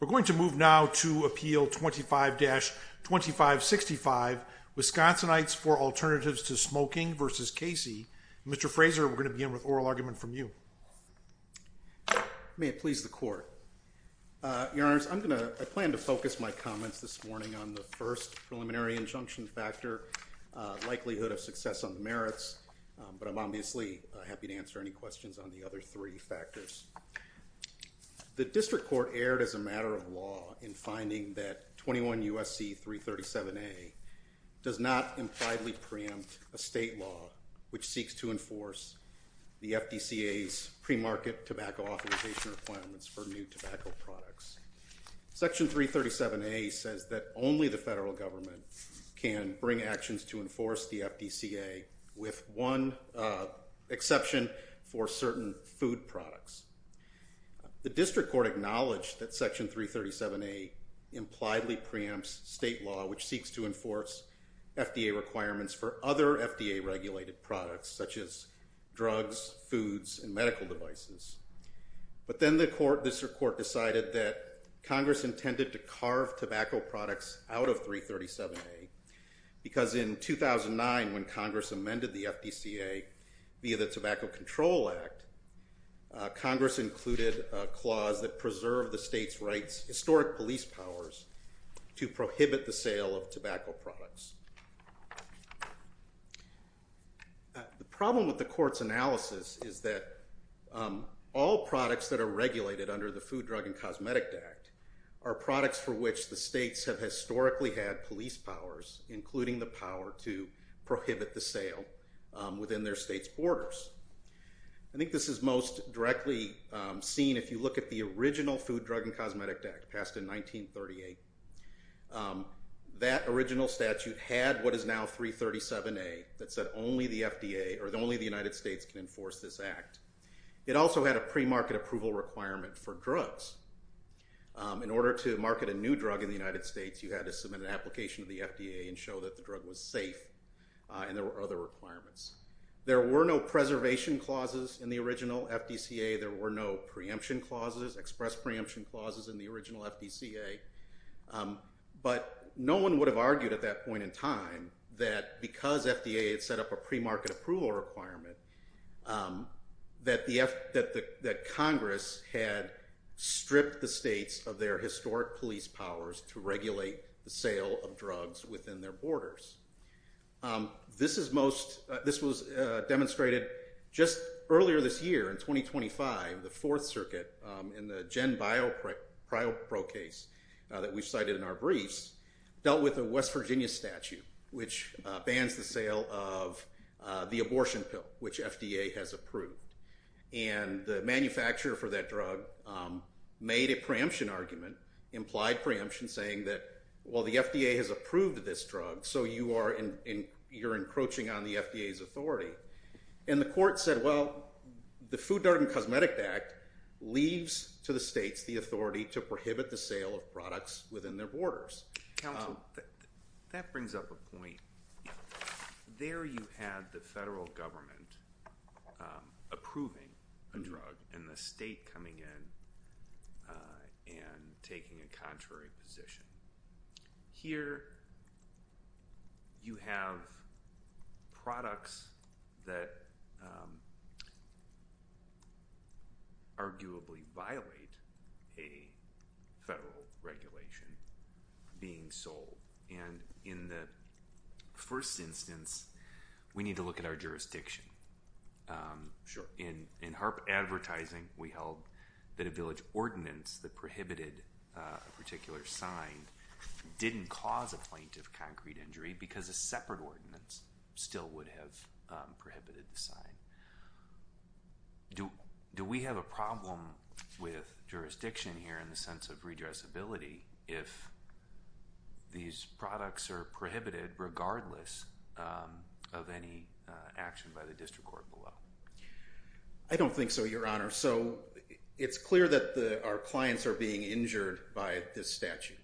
We're going to move now to Appeal 25-2565, Wisconsinites for Alternatives to Smoking versus Casey. Mr. Frazer, we're going to begin with oral argument from you. May it please the court. Your Honor, I'm going to plan to focus my comments this morning on the first preliminary injunction factor, likelihood of success on the merits, but I'm obviously happy to answer any questions on the other three factors. The District Court erred as a matter of law in finding that 21 U.S.C. 337A does not impliedly preempt a state law which seeks to enforce the FDCA's premarket tobacco authorization requirements for new tobacco products. Section 337A says that only the federal government can bring actions to enforce the FDCA with one exception for certain food products. The District Court acknowledged that Section 337A impliedly preempts state law which seeks to enforce FDA requirements for other FDA-regulated products such as drugs, foods, and medical devices. But then the District Court decided that Congress intended to carve tobacco products out of 337A because in 2009, when Congress amended the FDCA via the Tobacco Control Act, Congress included a clause that preserved the state's right's historic police powers to prohibit the sale of tobacco products. The problem with the court's analysis is that all products that are regulated under the Food, Drug, and Cosmetic Act are products for which the states have historically had police powers, including the power to prohibit the sale within their state's borders. I think this is most directly seen if you look at the original Food, Drug, and Cosmetic Act passed in 1938. That original statute had what is now 337A that said only the FDA or only the United States can enforce this act. It also had a premarket approval requirement for drugs. In order to market a new drug in the United States, you had to meet the application of the FDA and show that the drug was safe and there were other requirements. There were no preservation clauses in the original FDCA. There were no preemption clauses, express preemption clauses, in the original FDCA. But no one would have argued at that point in time that because FDA had set up a premarket approval requirement, that Congress had stripped the states of their historic police powers to regulate the sale of drugs within their borders. This was demonstrated just earlier this year in 2025, the Fourth Circuit in the Gen BioPro case that we cited in our briefs, dealt with the West Virginia statute which bans the sale of the abortion pill which FDA has approved. And the manufacturer for that drug made a preemption argument, implied preemption, saying that while the FDA has approved this drug, so you are encroaching on the FDA's authority. And the court said, well, the Food, Drug, and Cosmetic Act leaves to the states the authority to prohibit the sale of products within their borders. That brings up a point. There you had the federal government approving a drug and the state coming in and taking a contrary position. Here, you have products that arguably violate a federal regulation being sold. And in the first instance, we need to look at our jurisdiction. In HAARP advertising, we held that a village ordinance that prohibited a particular sign didn't cause a plaintiff concrete injury because a separate ordinance still would have prohibited the sign. Do we have a problem with jurisdiction here in the sense of redressability if these products are prohibited regardless of any action by the district court below? I don't think so, Your Honor. So it's clear that our clients are being injured by this statute.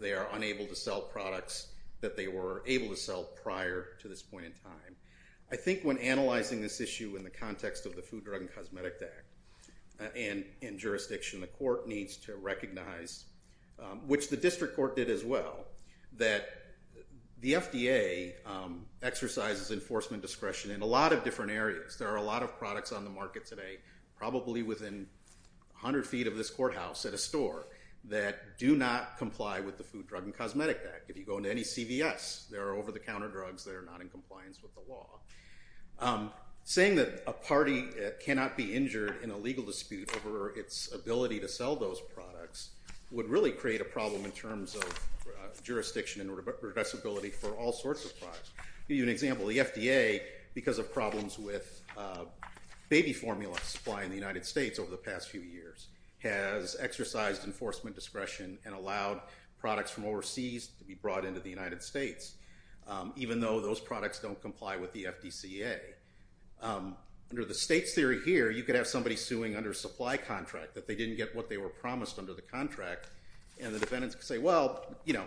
They are unable to sell products that they were able to sell prior to this point in time. I think when analyzing this issue in the context of the Food, Drug, and Cosmetic Act and in jurisdiction, the court needs to recognize, which the district court did as well, that the FDA exercises enforcement discretion in a lot of different areas. There are a lot of products on the market today, probably within 100 feet of this courthouse at a store, that do not comply with the Food, Drug, and Cosmetic Act. If you go into any CVS, there are over-the-counter drugs that are not in compliance with the law. Saying that a party cannot be injured in a legal dispute over its ability to sell those products would really create a problem in terms of jurisdiction and regressibility for all sorts of products. I'll give you an example. The FDA, because of problems with baby formula supply in the United States over the past few years, has exercised enforcement discretion and allowed products from overseas to be brought into the United States, even though those products don't comply with the FDCA. Under the state's theory here, you could have somebody suing under a supply contract that they didn't get what they were promised under the contract, and the defendants could say, well, you know,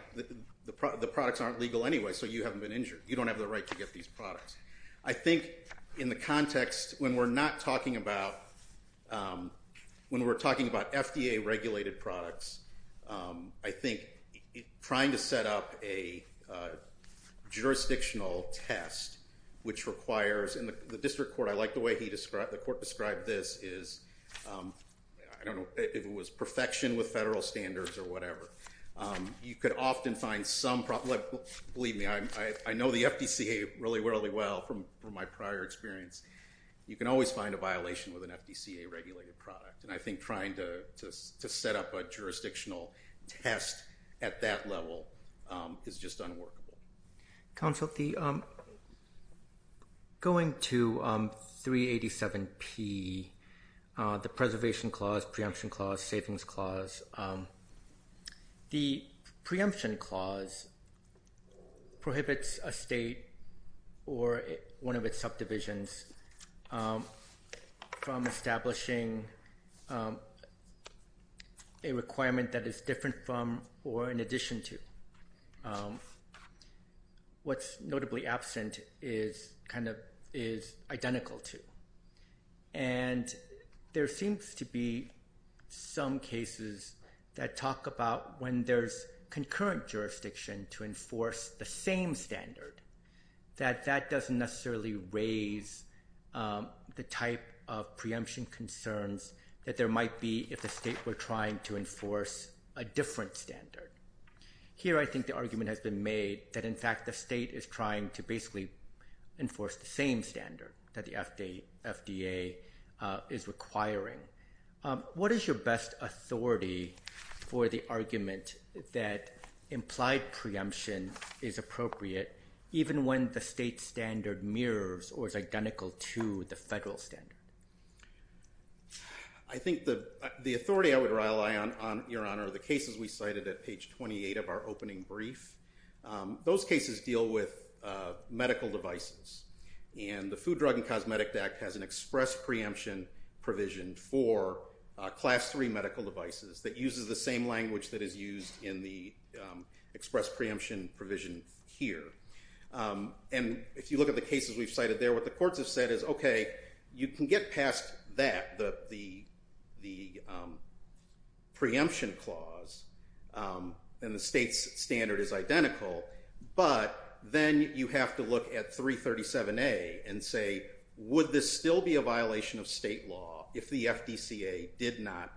the products aren't legal anyway, so you haven't been injured. You don't have the right to get these products. I think in the context, when we're not talking about, when we're talking about FDA-regulated products, I think trying to set up a jurisdictional test, which requires, and the district court, I like the way the court described this is, I don't know if it was perfection with federal standards or whatever. You could often find some problem, believe me, I know the FDCA really, really well from my prior experience. You can always find a violation with an FDCA-regulated product, and I think trying to set up a jurisdictional test at that level is just unworkable. Counsel, going to 387P, the preservation clause, preemption clause, savings clause, the preemption clause prohibits a state or one of its subdivisions from establishing a requirement that is different from or in addition to. What's notably absent is kind of, is identical to. And there seems to be some cases that talk about when there's concurrent jurisdiction to enforce the same standard, that that doesn't necessarily raise the type of preemption concerns that there might be if the state were trying to enforce a different standard. Here, I think the argument has been made that, in fact, the state is trying to basically enforce the same standard that the FDA is requiring. What is your best authority for the argument that implied preemption is appropriate even when the state standard mirrors or is identical to the medical standard? I think the authority I would rely on, Your Honor, the cases we cited at page 28 of our opening brief, those cases deal with medical devices. And the Food, Drug, and Cosmetic Act has an express preemption provision for Class III medical devices that uses the same language that is used in the express preemption provision here. And if you look at the cases we've cited there, what the courts have said is, okay, you can get past that, the preemption clause, and the state's standard is identical, but then you have to look at 337A and say, would this still be a violation of state law if the FDCA did not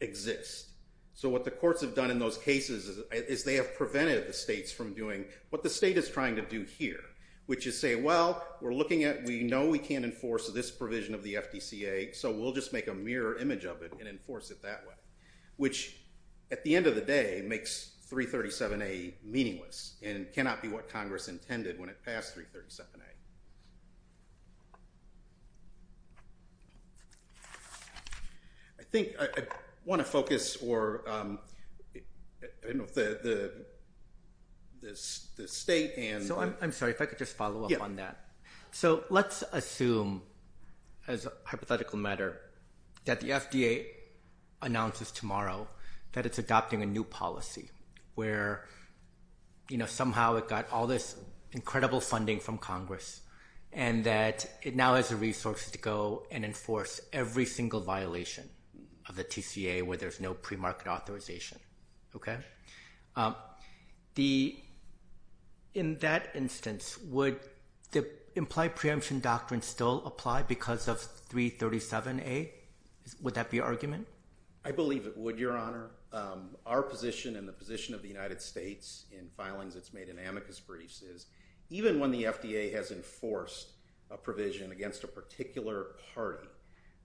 exist? So what the courts have done in those cases is they have prevented the states from doing what the state is trying to do here, which is say, well, we're looking at, we know we can't enforce this provision of the FDCA, so we'll just make a mirror image of it and enforce it that way, which at the end of the day makes 337A meaningless and cannot be what Congress intended when it passed 337A. I think I want to focus or, I don't know if the state and... So I'm sorry, if I could just follow up on that. So let's assume as a hypothetical matter that the FDA announces tomorrow that it's adopting a new policy where somehow it got all this incredible funding from Congress and that it now has the resources to go and enforce every single violation of the TCA where there's no market authorization, okay? In that instance, would the implied preemption doctrine still apply because of 337A? Would that be argument? I believe it would, Your Honor. Our position and the position of the United States in filings that's made in amicus briefs is even when the FDA has enforced a provision against a particular party,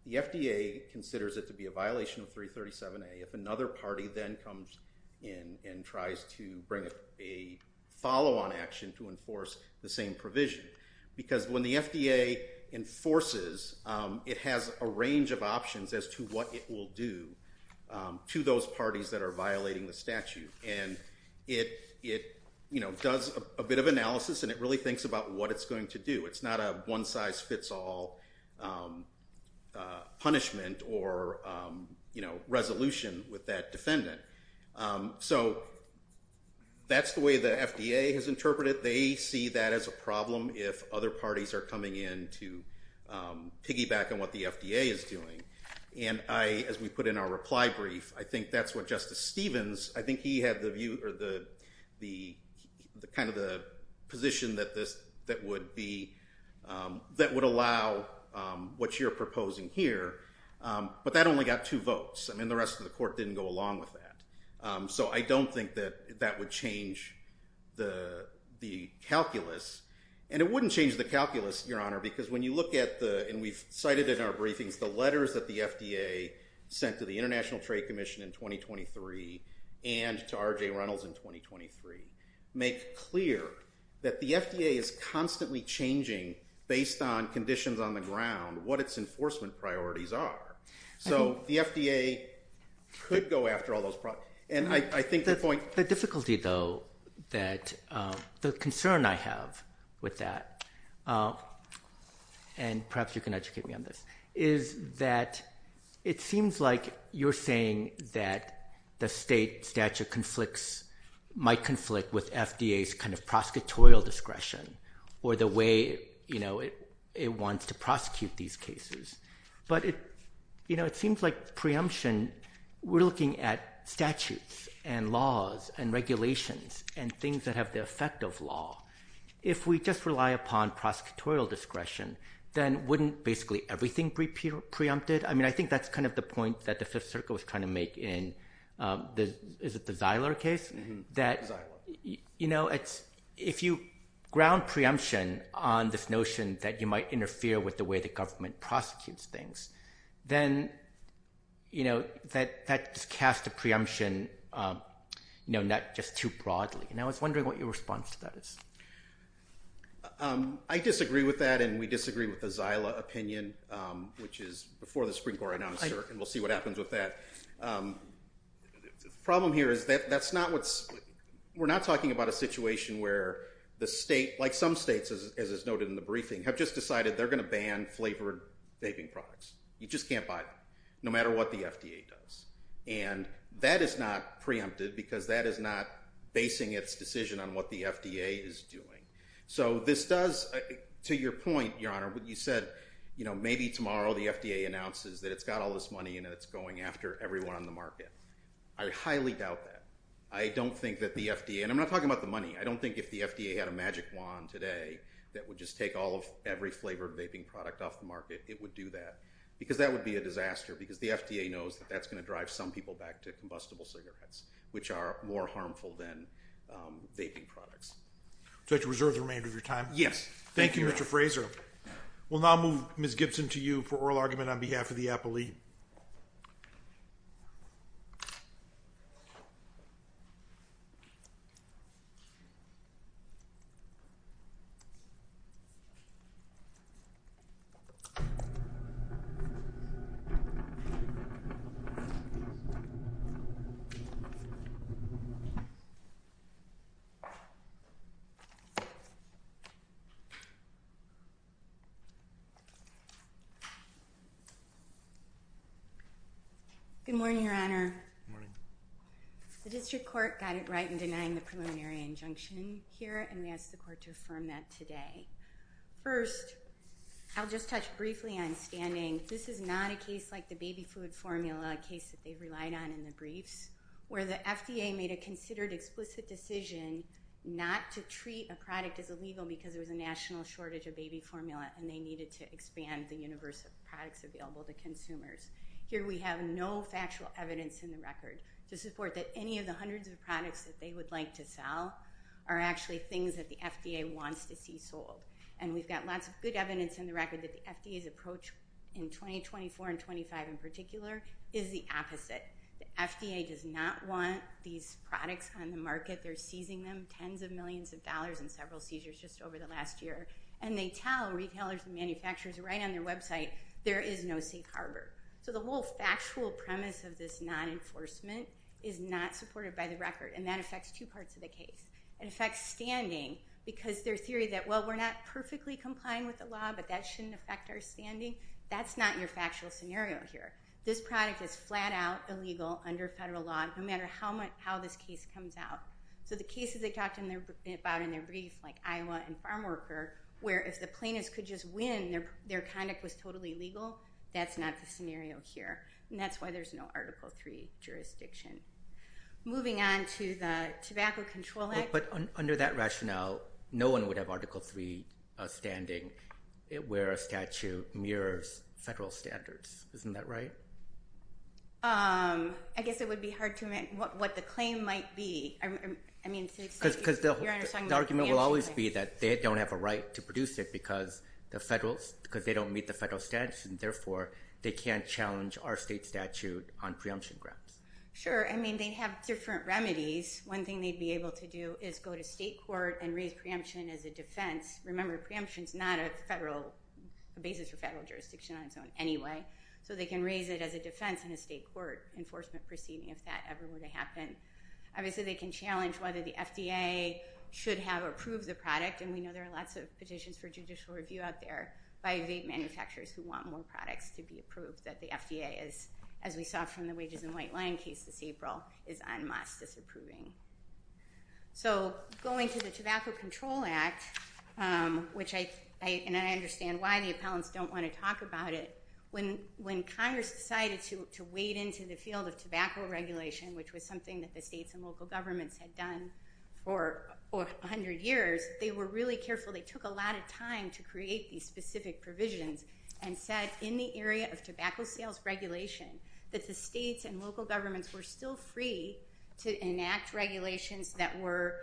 the FDA considers it to be a violation of 337A if another party then comes in and tries to bring a follow-on action to enforce the same provision. Because when the FDA enforces, it has a range of options as to what it will do to those parties that are violating the statute. And it does a bit of analysis and it really thinks about what it's going to do. It's not a one-size-fits-all punishment or, you know, resolution with that defendant. So that's the way the FDA has interpreted. They see that as a problem if other parties are coming in to piggyback on what the FDA is doing. And I, as we put in our reply brief, I think that's what Justice Stevens, I think he had the view or the kind of the position that this, that would be, that would allow what you're proposing here. But that only got two votes. I mean, the rest of the court didn't go along with that. So I don't think that that would change the calculus. And it wouldn't change the calculus, Your Honor, because when you look at the, and we've cited in our briefings, the letters that the FDA sent to the International Trade Commission in 2023 and to R.J. Reynolds in 2023, make clear that the FDA is constantly changing based on conditions on the ground, what its enforcement priorities are. So the FDA could go after all those problems. And I think the point... The difficulty, though, that, the concern I have with that, and perhaps you can educate me on this, is that it seems like you're saying that the state statute conflicts, might conflict with FDA's kind of prosecutorial discretion or the way, you know, it wants to prosecute these cases. But it, you know, it seems like preemption, we're looking at statutes and laws and regulations and things that have the effect of law. If we just rely upon prosecutorial discretion, then wouldn't basically everything be preempted? I mean, I think that's kind of the point that the panel was trying to make in the, is it the Zyler case? That, you know, it's, if you ground preemption on this notion that you might interfere with the way the government prosecutes things, then, you know, that just casts a preemption, you know, not just too broadly. And I was wondering what your response to that is. I disagree with that. And we disagree with the Zyler opinion, which is before the Supreme Court announced it. And we'll see what happens with that. The problem here is that that's not what's, we're not talking about a situation where the state, like some states, as is noted in the briefing, have just decided they're going to ban flavored vaping products. You just can't buy them, no matter what the FDA does. And that is not preempted because that is not basing its decision on what the FDA is doing. So this does, to your point, Your Honor, you said, you know, maybe tomorrow the FDA announces that it's got all this money and it's going after everyone on the market. I highly doubt that. I don't think that the FDA, and I'm not talking about the money, I don't think if the FDA had a magic wand today that would just take all of every flavored vaping product off the market, it would do that. Because that would be a disaster, because the FDA knows that that's going to drive some people back to combustible cigarettes, which are more harmful than vaping products. Do I have to reserve the remainder of your time? Yes. Thank you, Mr. Fraser. We'll now move Ms. Gibson to you for a final argument on behalf of the appellee. Good morning, Your Honor. The District Court got it right in denying the preliminary injunction here, and we ask the Court to affirm that today. First, I'll just touch briefly on standing. This is not a case like the baby food formula case that they relied on in the briefs, where the FDA made a considered explicit decision not to treat a product as illegal because there was a national shortage of baby formula and they needed to expand the universe of products available to consumers. Here we have no factual evidence in the record to support that any of the hundreds of products that they would like to sell are actually things that the FDA wants to see sold. And we've got lots of good evidence in the record that the FDA's approach in 2024 and 2025 in particular is the opposite. The FDA does not want these products on the market. They're seizing them, tens of millions of dollars in several seizures just over the last year. And they tell retailers and manufacturers right on their website, there is no safe harbor. So the whole factual premise of this non-enforcement is not supported by the record, and that affects two parts of the case. It affects standing because their theory that, well, we're not perfectly complying with the law, but that shouldn't affect our standing, that's not your factual scenario here. This product is flat out illegal under federal law, no matter how this case comes out. So the cases they talked about in their brief, like Iowa and Farm is totally legal, that's not the scenario here. And that's why there's no Article III jurisdiction. Moving on to the Tobacco Control Act. But under that rationale, no one would have Article III standing where a statute mirrors federal standards. Isn't that right? I guess it would be hard to imagine what the claim might be. I mean, because the argument will always be that they don't have a right to produce it because the federal, because they don't meet the federal standards, and therefore they can't challenge our state statute on preemption grounds. Sure. I mean, they have different remedies. One thing they'd be able to do is go to state court and raise preemption as a defense. Remember, preemption is not a federal basis for federal jurisdiction on its own anyway. So they can raise it as a defense in a state court enforcement proceeding, if that ever were to happen. Obviously, they can challenge whether the FDA should have approved the product, and we know there are lots of petitions for judicial review out there by vape manufacturers who want more products to be approved, that the FDA is, as we saw from the wages and white line case this April, is en masse disapproving. So going to the Tobacco Control Act, which I understand why the appellants don't want to talk about it, when Congress decided to wade into the field of tobacco regulation, which was something that the states and local governments had done for 100 years, they were really careful. They took a lot of time to create these specific provisions and said in the area of tobacco sales regulation that the states and local governments were still free to enact regulations that were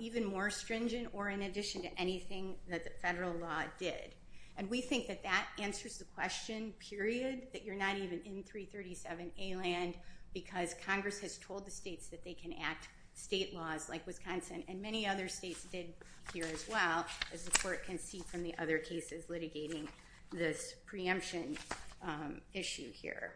even more stringent or in addition to anything that the federal law did. And we think that that answers the question, period, that you're not even in 337A land because Congress has told the states that they can act state laws like Wisconsin and many other states did here as well, as the court can see from the other cases litigating this preemption issue here.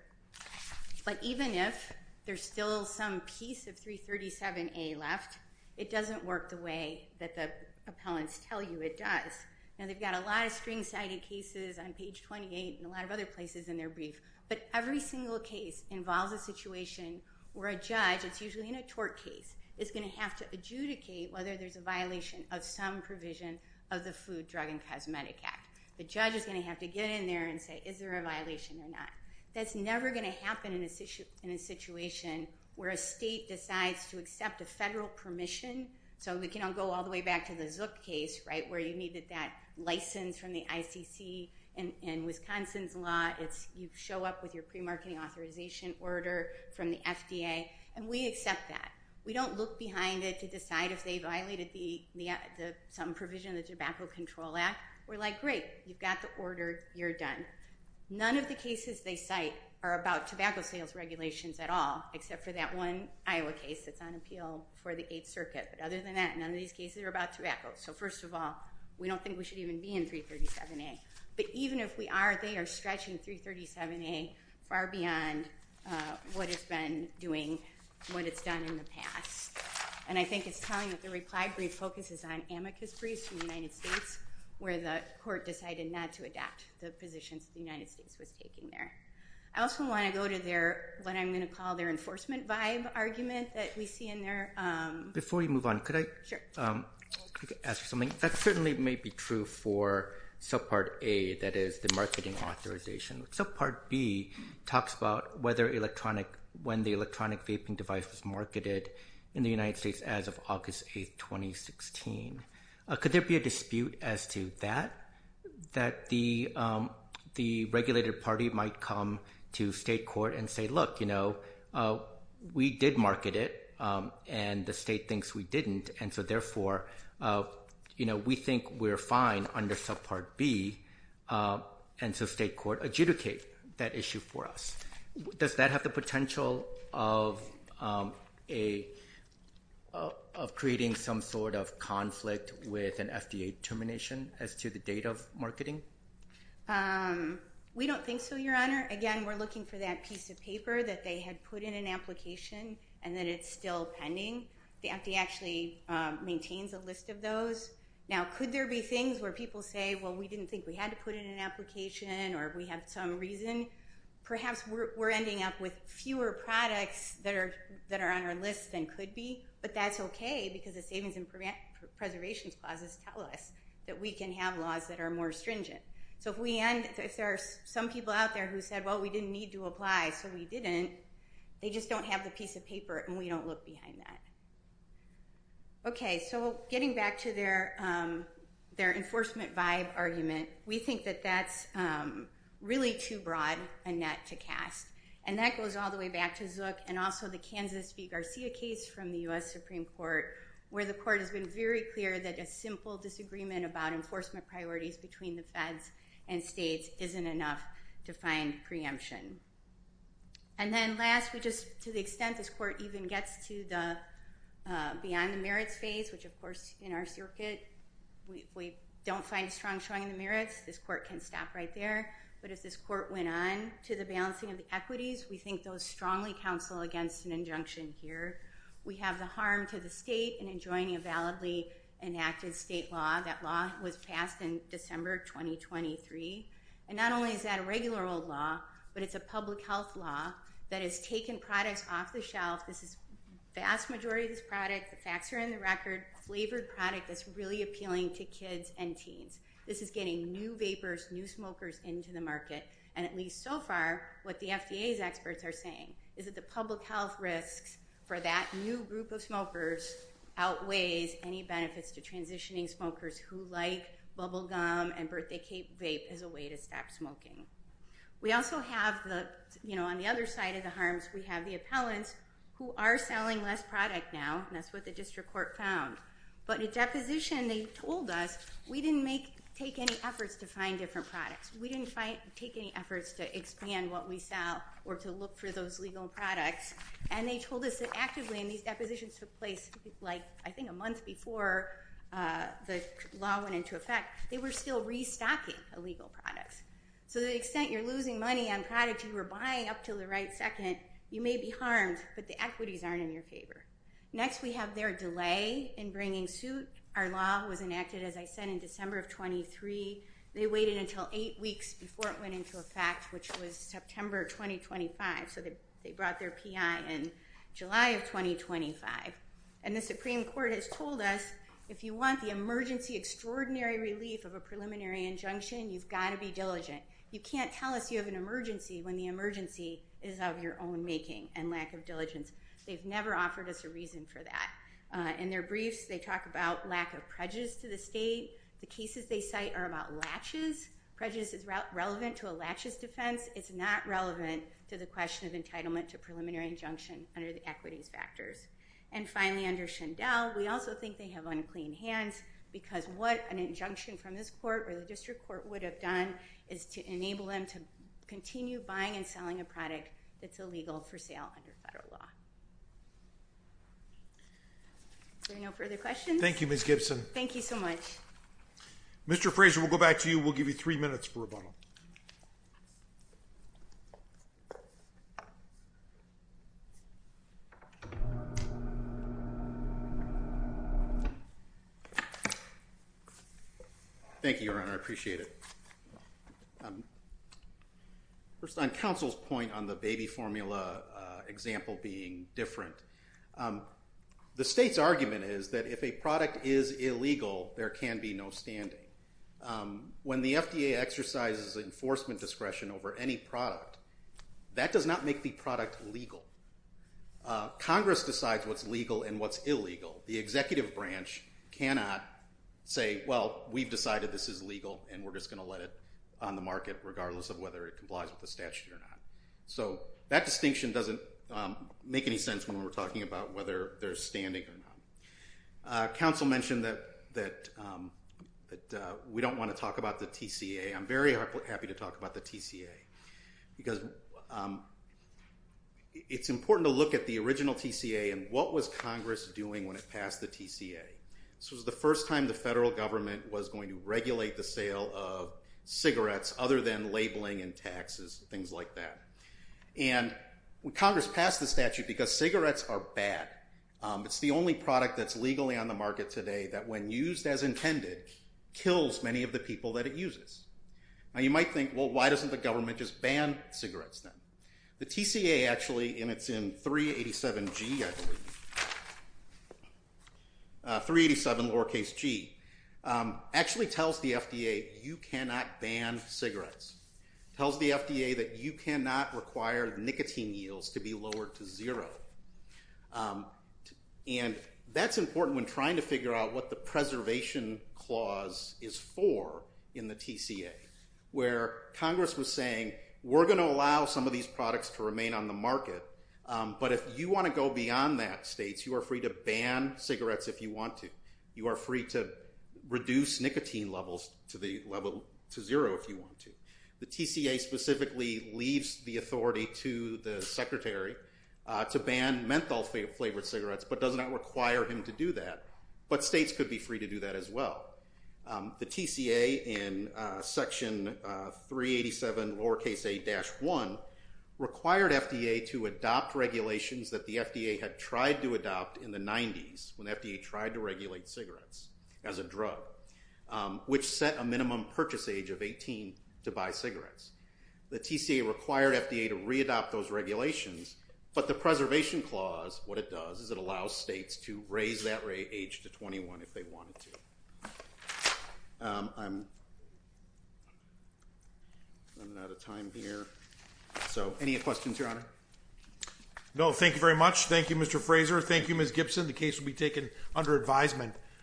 But even if there's still some piece of 337A left, it doesn't work the way that the appellants tell you it does. Now they've got a lot of string cited cases on page 28 and a lot of other places in their brief, but every single case involves a situation where a judge, it's usually in a tort case, is going to have to adjudicate whether there's a violation of some provision of the Food, Drug, and Cosmetic Act. The judge is going to have to get in there and say, is there a violation or not? That's never going to happen in a situation where a state decides to accept a federal permission. So we can all go all the way back to the Zook case, right, where you needed that license from the ICC and Wisconsin's law. You show up with your pre-marketing authorization order from the FDA, and we accept that. We don't look behind it to decide if they violated some provision of the Tobacco Control Act. We're like, great, you've got the order, you're done. None of the cases they cite are about tobacco sales regulations at all, except for that one Iowa case that's on appeal for the Eighth Circuit. But other than that, none of these cases are about tobacco. So first of all, we don't think we should even be in 337A. But even if we are, they are stretching 337A far beyond what it's been doing, what it's done in the past. And I think it's telling that the reply brief focuses on amicus briefs from the United States, where the court decided not to adapt the positions the United States was taking there. I also want to go to their, what I'm going to call their enforcement vibe argument that we see in there. Before you move on, could I ask you something? That certainly may be true for subpart A, that is the marketing authorization. Subpart B talks about whether electronic, when the electronic vaping device was marketed in the United States as of August 8th, 2016. Could there be a dispute as to that, that the regulated party might come to state court and say, look, you know, we did market it, and the state thinks we didn't. And so therefore, you think we're fine under subpart B. And so state court adjudicate that issue for us. Does that have the potential of creating some sort of conflict with an FDA termination as to the date of marketing? We don't think so, Your Honor. Again, we're looking for that piece of paper that they had put in an application and that it's still pending. The FDA actually maintains a list of those. Now, could there be things where people say, well, we didn't think we had to put it in an application or we have some reason? Perhaps we're ending up with fewer products that are on our list than could be, but that's okay, because the savings and preservation clauses tell us that we can have laws that are more stringent. So if we end, if there are some people out there who said, well, we didn't need to apply, so we didn't, they just don't have the piece of paper and we don't look behind that. Okay, so getting back to their enforcement vibe argument, we think that that's really too broad a net to cast. And that goes all the way back to Zook and also the Kansas v. Garcia case from the U.S. Supreme Court, where the court has been very clear that a simple disagreement about enforcement priorities between the feds and states isn't enough to find preemption. And then last, we just, to the extent this court even gets to the beyond the merits phase, which of course in our circuit, we don't find strong showing the merits, this court can stop right there. But if this court went on to the balancing of the equities, we think those strongly counsel against an injunction here. We have the harm to the state in enjoining a validly enacted state law. That law was passed in December 2023. And not only is that a regular old law, but it's a public health law that has taken products off the shelf. This is vast majority of this product. The facts are in the record. Flavored product that's really appealing to kids and teens. This is getting new vapors, new smokers into the market. And at least so far, what the FDA's experts are saying is that the public health risks for that new group of smokers outweighs any benefits to transitioning smokers who like bubble gum and birthday cake vape as a way to stop smoking. We also have the, you know, on the other side of the harms, we have the talents who are selling less product now. And that's what the district court found. But the deposition they told us, we didn't make, take any efforts to find different products. We didn't find, take any efforts to expand what we sell or to look for those legal products. And they told us that actively in these depositions took place like, I think a month before the law went into effect, they were still restocking illegal products. So the extent you're losing money on products you were buying up to the right second, you may be harmed, but the equities aren't in your favor. Next, we have their delay in bringing suit. Our law was enacted, as I said, in December of 23. They waited until eight weeks before it went into effect, which was September 2025. So they brought their PI in July of 2025. And the Supreme Court has told us, if you want the emergency extraordinary relief of a preliminary injunction, you've got to be diligent. You can't tell us you have an emergency when the emergency is of your own making and lack of diligence. They've never offered us a reason for that. In their briefs, they talk about lack of prejudice to the state. The cases they cite are about latches. Prejudice is relevant to a latches defense. It's not relevant to the question of entitlement to preliminary injunction under the equities factors. And finally, under Schindel, we also think they have unclean hands because what an injunction from this court or the district court would have done is to enable them to continue buying and selling a product that's illegal for sale under federal law. There are no further questions. Thank you, Ms. Gibson. Thank you so much. Mr. Frazier, we'll go back to you. We'll give you three minutes for rebuttal. Thank you, Your Honor. I appreciate it. First, on counsel's point on the baby formula example being different, the state's argument is that if a product is illegal, there can be no standing. When the FDA exercises enforcement discretion over any product, that does not make the product legal. Congress decides what's legal and what's illegal. The executive branch cannot say, well, we've decided this is legal and we're just going to let it on the market regardless of whether it complies with the statute or not. So that distinction doesn't make any sense when we're talking about whether there's standing or not. Counsel mentioned that we don't want to talk about the TCA. I'm very happy to talk about the TCA because it's important to look at the original TCA and what was Congress doing when it passed the TCA. This was the first time the federal government was going to regulate the sale of cigarettes other than labeling and taxes, things like that. And Congress passed the statute because cigarettes are bad. It's the only product that's legally on the market today that when used as intended, kills many of the people that it uses. Now you might think, well, why doesn't the government just ban cigarettes then? The TCA actually, and it's in 387G, I believe, 387 lowercase g, actually tells the FDA you cannot ban cigarettes, tells the FDA that you cannot require nicotine yields to be lowered to zero. And that's important when trying to figure out what the preservation clause is for in the TCA, where Congress was saying we're going to allow some of these products to remain on the market. But if you want to go beyond that states, you are free to ban cigarettes if you want to. You are free to reduce nicotine levels to zero if you want to. The TCA specifically leaves the authority to the secretary to ban menthol flavored cigarettes, but does not require him to do that. But states could be free to do that as well. The TCA in section 387 lowercase a-1 required FDA to adopt regulations that the FDA had tried to adopt in the 90s when FDA tried to regulate cigarettes as a drug, which set a minimum purchase age of 18 to buy cigarettes. The TCA required FDA to readopt those regulations, but the preservation clause, what it does is it allows states to raise that rate age to 21 if they wanted to. I'm running out of time here. So any questions, Your Honor? No, thank you very much. Thank you, Mr. Fraser. Thank you, Ms. Gibson. The case will be taken under advisement.